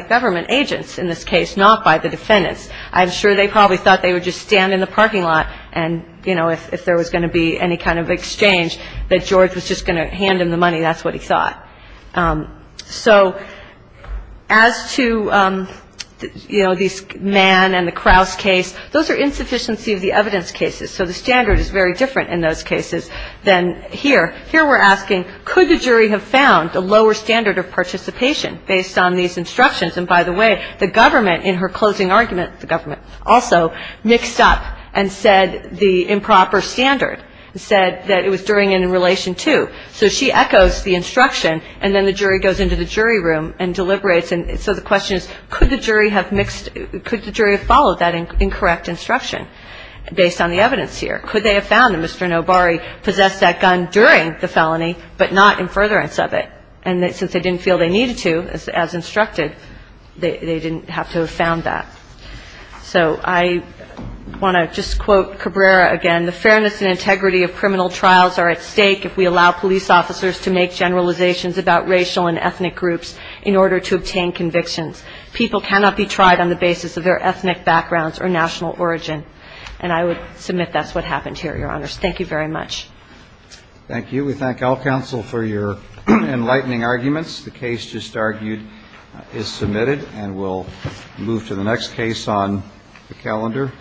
government agents in this case, not by the defendants. I'm sure they probably thought they would just stand in the parking lot and, you know, if there was going to be any kind of exchange that George was just going to hand him the money. That's what he thought. So as to, you know, this Mann and the Kraus case, those are insufficiency of the evidence cases. So the standard is very different in those cases than here. Here we're asking, could the jury have found a lower standard of participation based on these instructions? And, by the way, the government in her closing argument, the government also, mixed up and said the improper standard and said that it was during and in relation to. So she echoes the instruction and then the jury goes into the jury room and deliberates. And so the question is, could the jury have mixed, could the jury have followed that incorrect instruction based on the evidence here? Could they have found that Mr. Nobari possessed that gun during the felony but not in furtherance of it? And since they didn't feel they needed to, as instructed, they didn't have to have found that. So I want to just quote Cabrera again. The fairness and integrity of criminal trials are at stake if we allow police officers to make generalizations about racial and ethnic groups in order to obtain convictions. People cannot be tried on the basis of their ethnic backgrounds or national origin. And I would submit that's what happened here, Your Honors. Thank you very much. Thank you. We thank all counsel for your enlightening arguments. The case just argued is submitted and we'll move to the next case on the calendar.